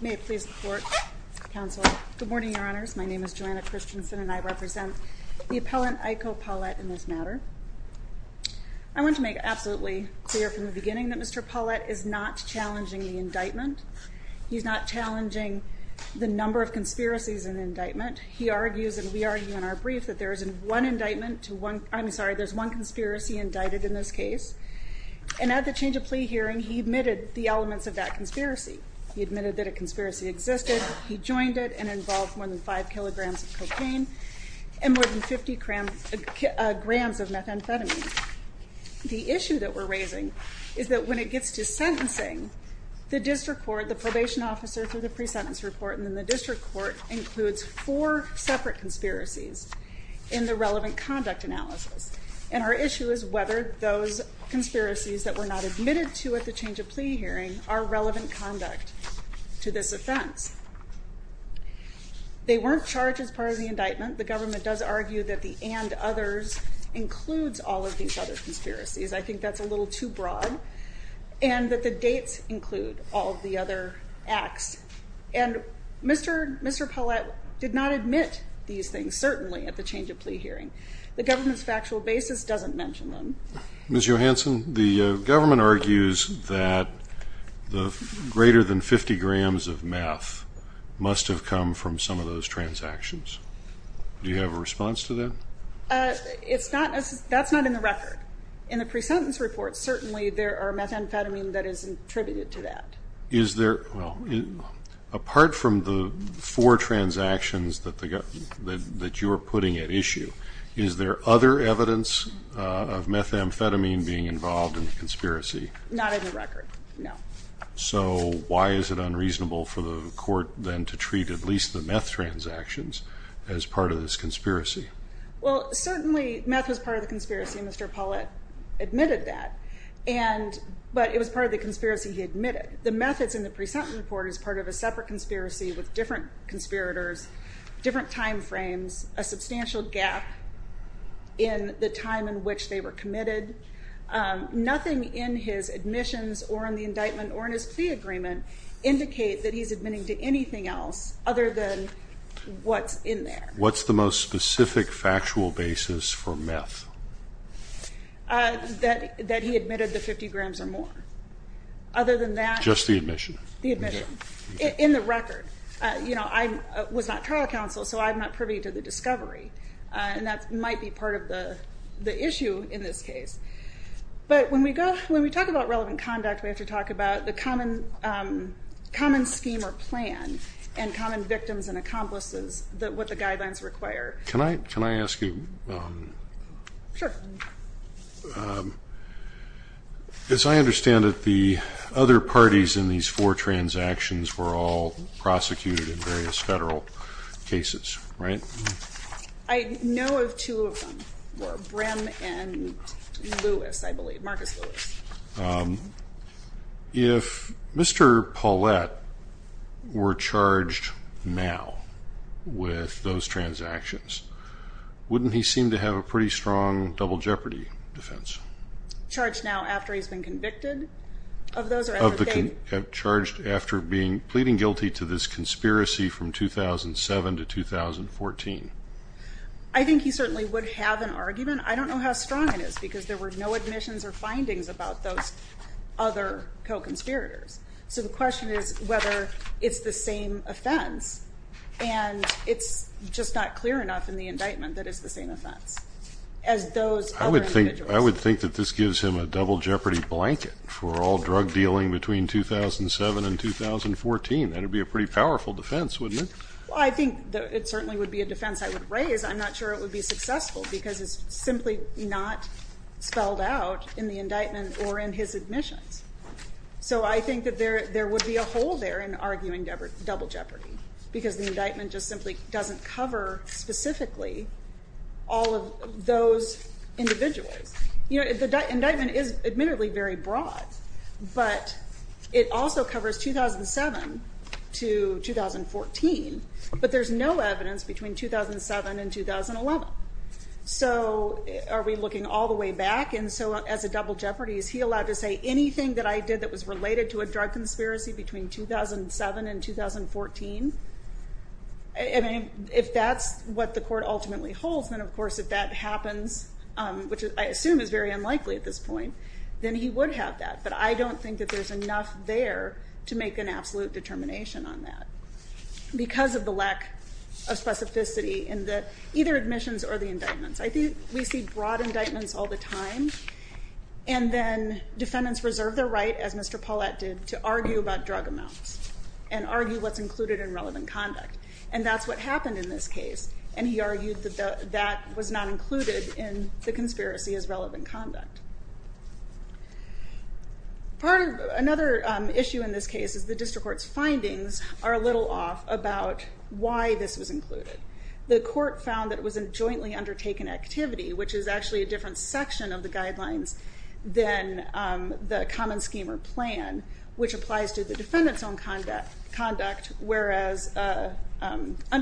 May it please the Court, Counsel. Good morning, Your Honors. My name is Joanna Christensen, and I represent the appellant Ayiko Paulette in this matter. I want to make absolutely clear from the beginning that Mr. Paulette is not challenging the indictment. He's not challenging the number of conspiracies in the indictment. He argues, and we argue in our brief, that there is one conspiracy indicted in this case. And at the change of plea hearing, he admitted the elements of that conspiracy. He admitted that a conspiracy existed. He joined it and involved more than 5 kilograms of cocaine and more than 50 grams of methamphetamine. The issue that we're raising is that when it gets to sentencing, the district court, the probation officer, through the pre-sentence report, and then the district court includes four separate conspiracies in the relevant conduct analysis. And our issue is whether those conspiracies that were not admitted to at the change of plea hearing are relevant conduct to this offense. They weren't charged as part of the indictment. The government does argue that the and others includes all of these other conspiracies. I think that's a little too broad. And that the dates include all of the other acts. And Mr. Paulette did not admit these things, certainly, at the change of plea hearing. The government's factual basis doesn't mention them. Ms. Johanson, the government argues that the greater than 50 grams of meth must have come from some of those transactions. Do you have a response to that? That's not in the record. In the pre-sentence report, certainly there are methamphetamine that is attributed to that. Apart from the four transactions that you're putting at issue, is there other evidence of methamphetamine being involved in the conspiracy? Not in the record, no. So why is it unreasonable for the court then to treat at least the meth transactions as part of this conspiracy? Well, certainly meth was part of the conspiracy. Mr. Paulette admitted that. But it was part of the conspiracy he admitted. The meth is in the pre-sentence report as part of a separate conspiracy with different conspirators, different time frames, a substantial gap in the time in which they were committed. Nothing in his admissions or in the indictment or in his plea agreement indicate that he's admitting to anything else other than what's in there. What's the most specific factual basis for meth? That he admitted the 50 grams or more. Other than that... Just the admission? The admission. In the record. You know, I was not trial counsel, so I'm not privy to the discovery. And that might be part of the issue in this case. But when we talk about relevant conduct, we have to talk about the common scheme or plan and common victims and accomplices, what the guidelines require. Can I ask you... Sure. As I understand it, the other parties in these four transactions were all prosecuted in various federal cases, right? I know of two of them were Brim and Lewis, I believe. Marcus Lewis. If Mr. Paulette were charged now with those transactions, wouldn't he seem to have a pretty strong double jeopardy defense? Charged now after he's been convicted? Charged after pleading guilty to this conspiracy from 2007 to 2014. I think he certainly would have an argument. I don't know how strong it is, because there were no admissions or findings about those other co-conspirators. So the question is whether it's the same offense, and it's just not clear enough in the indictment that it's the same offense. I would think that this gives him a double jeopardy blanket for all drug dealing between 2007 and 2014. That would be a pretty powerful defense, wouldn't it? I think it certainly would be a defense I would raise. I'm not sure it would be successful, because it's simply not spelled out in the indictment or in his admissions. So I think that there would be a hole there in arguing double jeopardy, because the indictment just simply doesn't cover specifically all of those individuals. The indictment is admittedly very broad, but it also covers 2007 to 2014, but there's no evidence between 2007 and 2011. So are we looking all the way back? And so as a double jeopardy, is he allowed to say anything that I did that was related to a drug conspiracy between 2007 and 2014? If that's what the court ultimately holds, then of course if that happens, which I assume is very unlikely at this point, then he would have that. But I don't think that there's enough there to make an absolute determination on that. Because of the lack of specificity in either admissions or the indictments. I think we see broad indictments all the time. And then defendants reserve their right, as Mr. Paulette did, to argue about drug amounts and argue what's included in relevant conduct. And that's what happened in this case. And he argued that that was not included in the conspiracy as relevant conduct. Another issue in this case is the district court's findings are a little off about why this was included. The court found that it was a jointly undertaken activity, which is actually a different section of the guidelines than the common scheme or plan, which applies to the defendant's own conduct, whereas a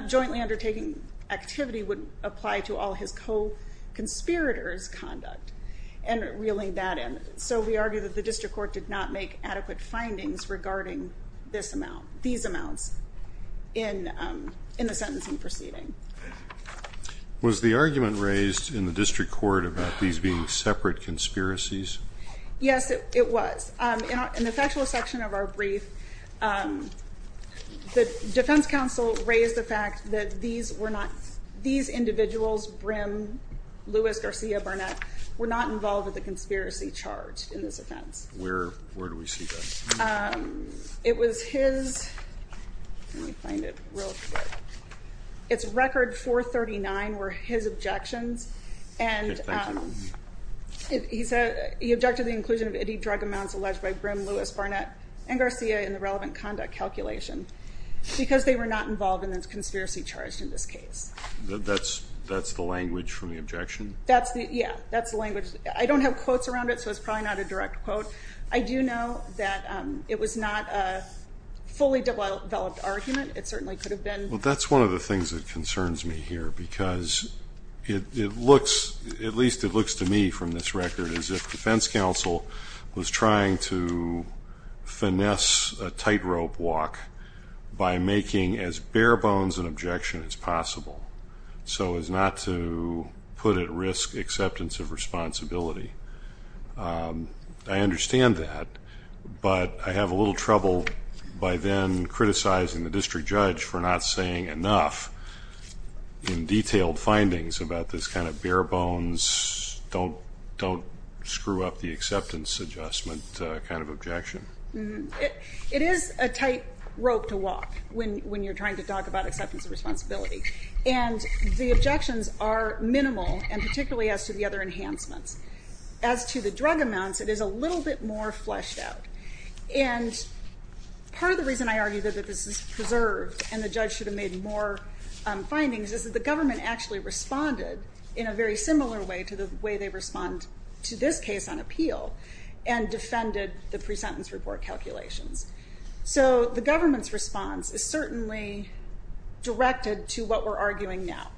jointly undertaken activity would apply to all his co-conspirators' conduct. And reeling that in. So we argue that the district court did not make adequate findings regarding these amounts in the sentencing proceeding. Was the argument raised in the district court about these being separate conspiracies? Yes, it was. In the factual section of our brief, the defense counsel raised the fact that these individuals, Brim, Lewis, Garcia, Barnett, were not involved with the conspiracy charge in this offense. Where do we see that? It was his, let me find it real quick, it's record 439 were his objections. He objected to the inclusion of any drug amounts alleged by Brim, Lewis, Barnett, and Garcia in the relevant conduct calculation because they were not involved in the conspiracy charge in this case. That's the language from the objection? Yeah, that's the language. I don't have quotes around it, so it's probably not a direct quote. I do know that it was not a fully developed argument. It certainly could have been. Well, that's one of the things that concerns me here because it looks, at least it looks to me from this record, as if defense counsel was trying to finesse a tightrope walk by making as bare bones an objection as possible so as not to put at risk acceptance of responsibility. I understand that, but I have a little trouble by then criticizing the district judge for not saying enough in detailed findings about this kind of bare bones, don't screw up the acceptance adjustment kind of objection. It is a tightrope to walk when you're trying to talk about acceptance of responsibility. And the objections are minimal and particularly as to the other enhancements. As to the drug amounts, it is a little bit more fleshed out. And part of the reason I argue that this is preserved and the judge should have made more findings is that the government actually responded in a very similar way to the way they respond to this case on appeal and defended the pre-sentence report calculations. So the government's response is certainly directed to what we're arguing now.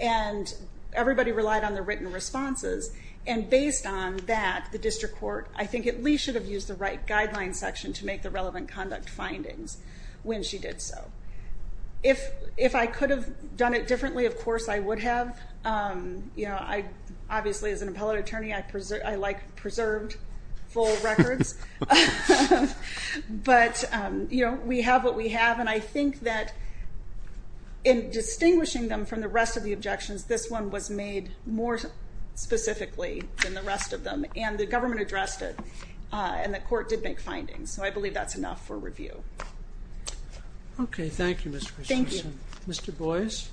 And everybody relied on their written responses and based on that, the district court, I think, at least should have used the right guideline section to make the relevant conduct findings when she did so. If I could have done it differently, of course I would have. Obviously as an appellate attorney, I like preserved full records. But we have what we have and I think that in distinguishing them from the rest of the objections, this one was made more specifically than the rest of them. And the government addressed it and the court did make findings. So I believe that's enough for review. Okay, thank you, Mr. Christensen. Thank you. Mr. Boyce.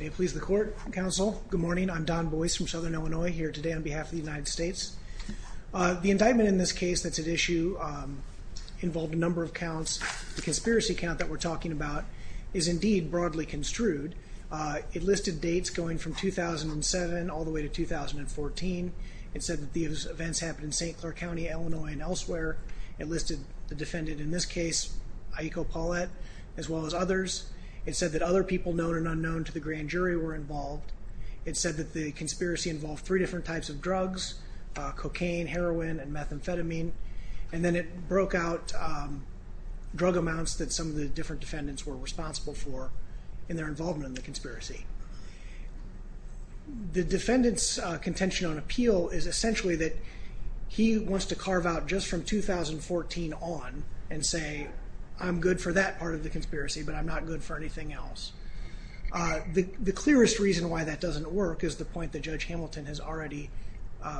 May it please the court, counsel, good morning. I'm Don Boyce from Southern Illinois here today on behalf of the United States. The indictment in this case that's at issue involved a number of counts. The conspiracy count that we're talking about is indeed broadly construed. It listed dates going from 2007 all the way to 2014. It said that these events happened in St. Clair County, Illinois and elsewhere. It listed the defendant in this case, Aiko Paulette, as well as others. It said that other people known and unknown to the grand jury were involved. It said that the conspiracy involved three different types of drugs, cocaine, heroin, and methamphetamine. And then it broke out drug amounts that some of the different defendants were responsible for in their involvement in the conspiracy. The defendant's contention on appeal is essentially that he wants to carve out just from 2014 on and say, I'm good for that part of the conspiracy, but I'm not good for anything else. The clearest reason why that doesn't work is the point that Judge Hamilton has already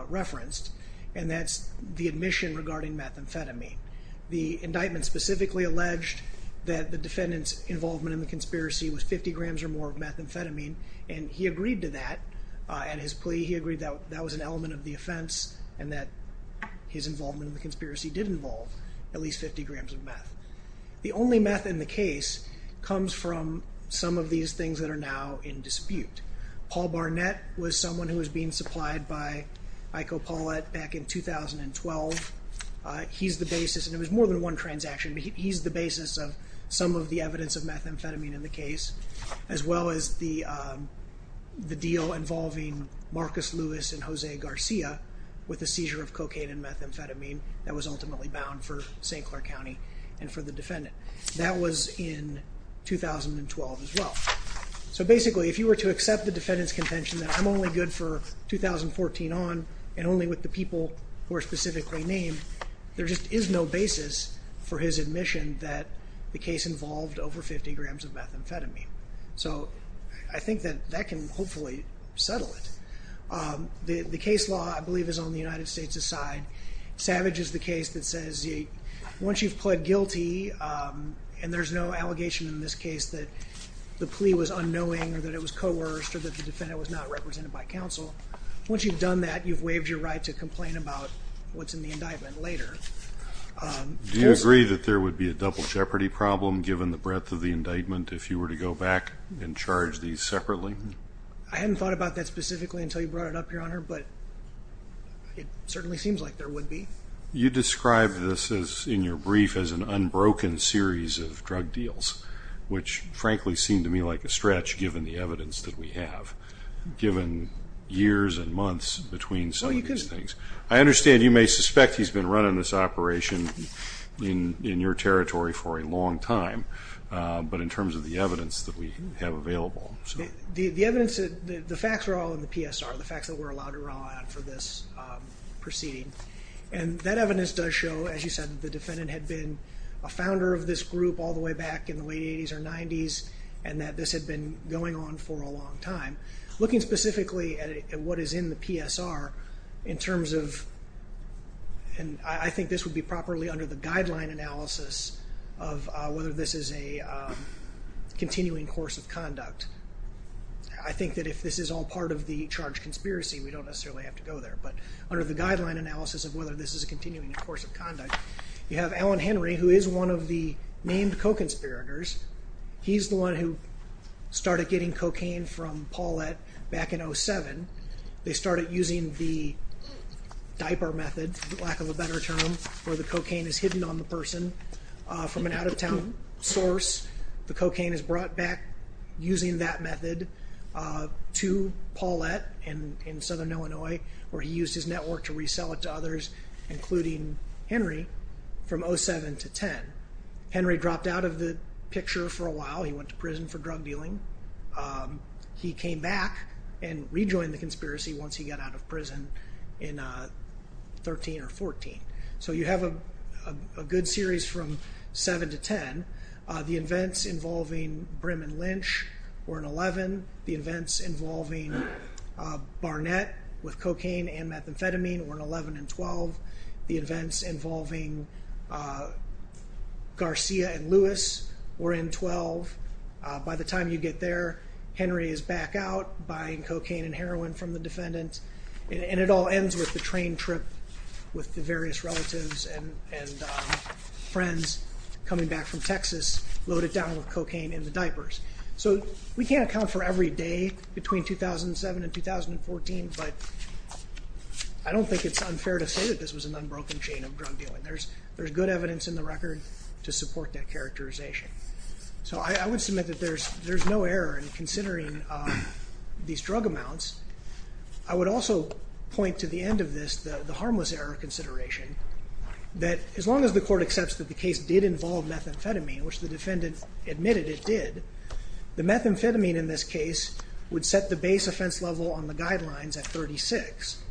referenced, and that's the admission regarding methamphetamine. The indictment specifically alleged that the defendant's involvement in the conspiracy was 50 grams or more of methamphetamine, and he agreed to that at his plea. He agreed that that was an element of the offense and that his involvement in the conspiracy did involve at least 50 grams of meth. The only meth in the case comes from some of these things that are now in dispute. Paul Barnett was someone who was being supplied by Aiko Paulette back in 2012. He's the basis, and it was more than one transaction, but he's the basis of some of the evidence of methamphetamine in the case, as well as the deal involving Marcus Lewis and Jose Garcia with the seizure of cocaine and methamphetamine that was ultimately bound for St. Clair County and for the defendant. That was in 2012 as well. So basically, if you were to accept the defendant's contention that I'm only good for 2014 on and only with the people who are specifically named, there just is no basis for his admission that the case involved over 50 grams of methamphetamine. So I think that that can hopefully settle it. The case law, I believe, is on the United States' side. Savage is the case that says once you've pled guilty, and there's no allegation in this case that the plea was unknowing or that it was coerced or that the defendant was not represented by counsel, once you've done that, you've waived your right to complain about what's in the indictment later. Do you agree that there would be a double jeopardy problem given the breadth of the indictment if you were to go back and charge these separately? I haven't thought about that specifically until you brought it up, Your Honor, but it certainly seems like there would be. You described this in your brief as an unbroken series of drug deals, which frankly seemed to me like a stretch given the evidence that we have, given years and months between some of these things. I understand you may suspect he's been running this operation in your territory for a long time, but in terms of the evidence that we have available. The evidence, the facts are all in the PSR, the facts that we're allowed to rely on for this proceeding, and that evidence does show, as you said, the defendant had been a founder of this group all the way back in the late 80s or 90s and that this had been going on for a long time. Looking specifically at what is in the PSR in terms of, and I think this would be properly under the guideline analysis of whether this is a continuing course of conduct. I think that if this is all part of the charge conspiracy, we don't necessarily have to go there, but under the guideline analysis of whether this is a continuing course of conduct, you have Alan Henry, who is one of the named co-conspirators. He's the one who started getting cocaine from Paulette back in 07. They started using the diaper method, for lack of a better term, where the cocaine is hidden on the person from an out-of-town source. The cocaine is brought back using that method to Paulette in southern Illinois, where he used his network to resell it to others, including Henry, from 07 to 10. Henry dropped out of the picture for a while. He went to prison for drug dealing. He came back and rejoined the conspiracy once he got out of prison in 13 or 14. So you have a good series from 07 to 10. The events involving Brim and Lynch were in 11. The events involving Barnett with cocaine and methamphetamine were in 11 and 12. The events involving Garcia and Lewis were in 12. By the time you get there, Henry is back out buying cocaine and heroin from the defendant, and it all ends with the train trip with the various relatives and friends coming back from Texas, loaded down with cocaine in the diapers. So we can't account for every day between 2007 and 2014, but I don't think it's unfair to say that this was an unbroken chain of drug dealing. There's good evidence in the record to support that characterization. So I would submit that there's no error in considering these drug amounts. I would also point to the end of this, the harmless error consideration, that as long as the court accepts that the case did involve methamphetamine, which the defendant admitted it did, the methamphetamine in this case would set the base offense level on the guidelines at 36.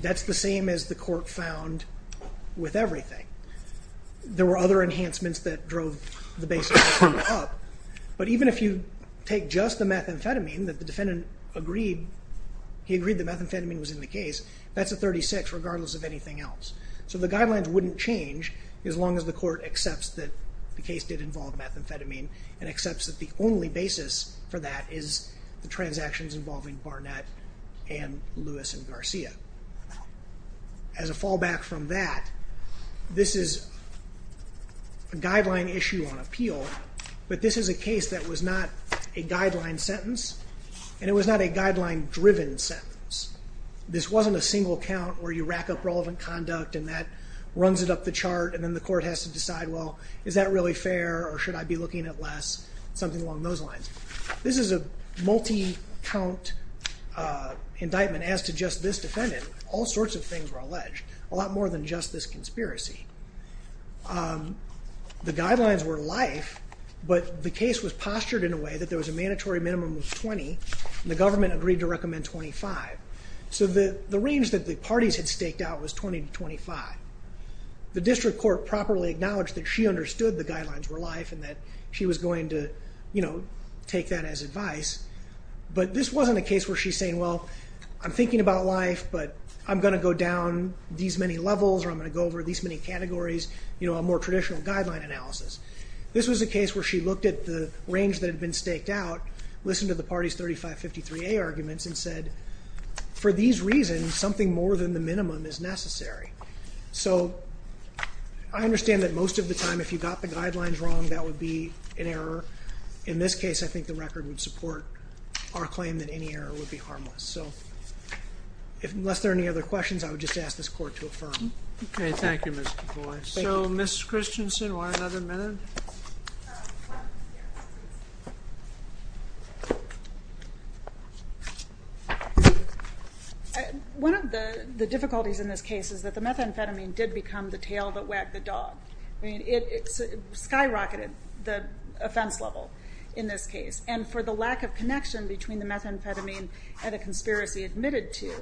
That's the same as the court found with everything. There were other enhancements that drove the base offense up, but even if you take just the methamphetamine that the defendant agreed, he agreed that methamphetamine was in the case, that's a 36 regardless of anything else. So the guidelines wouldn't change as long as the court accepts that the case did involve methamphetamine and accepts that the only basis for that is the transactions involving Barnett and Lewis and Garcia. As a fallback from that, this is a guideline issue on appeal, but this is a case that was not a guideline sentence and it was not a guideline-driven sentence. This wasn't a single count where you rack up relevant conduct and that runs it up the chart and then the court has to decide, well, is that really fair or should I be looking at less, something along those lines. This is a multi-count indictment as to just this defendant. All sorts of things were alleged, a lot more than just this conspiracy. The guidelines were life, but the case was postured in a way that there was a mandatory minimum of 20 and the government agreed to recommend 25. So the range that the parties had staked out was 20 to 25. The district court properly acknowledged that she understood the guidelines were life and that she was going to take that as advice, but this wasn't a case where she's saying, well, I'm thinking about life, but I'm going to go down these many levels or I'm going to go over these many categories, a more traditional guideline analysis. This was a case where she looked at the range that had been staked out, listened to the parties' 3553A arguments and said, for these reasons, something more than the minimum is necessary. So I understand that most of the time if you got the guidelines wrong, that would be an error. In this case, I think the record would support our claim that any error would be harmless. So unless there are any other questions, I would just ask this court to affirm. Okay, thank you, Mr. Boyce. So Ms. Christensen, one another minute? One of the difficulties in this case is that the methamphetamine did become the tail that wagged the dog. I mean, it skyrocketed the offense level in this case, and for the lack of connection between the methamphetamine and a conspiracy admitted to,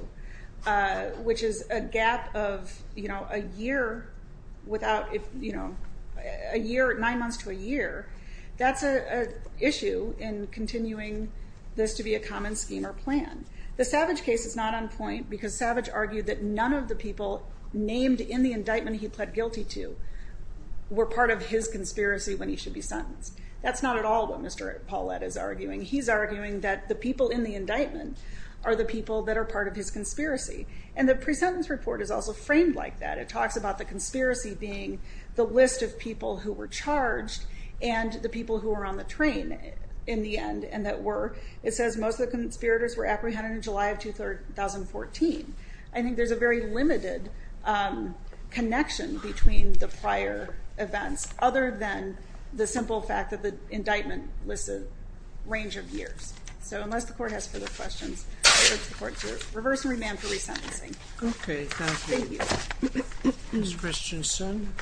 which is a gap of a year, nine months to a year, that's an issue in continuing this to be a common scheme or plan. The Savage case is not on point because Savage argued that none of the people named in the indictment he pled guilty to were part of his conspiracy when he should be sentenced. That's not at all what Mr. Paulette is arguing. He's arguing that the people in the indictment are the people that are part of his conspiracy, and the pre-sentence report is also framed like that. It talks about the conspiracy being the list of people who were charged and the people who were on the train in the end, and it says most of the conspirators were apprehended in July of 2014. I think there's a very limited connection between the prior events, other than the simple fact that the indictment lists a range of years. So unless the court has further questions, I urge the court to reverse and remand for resentencing. Okay, thank you. Thank you. Ms. Richardson.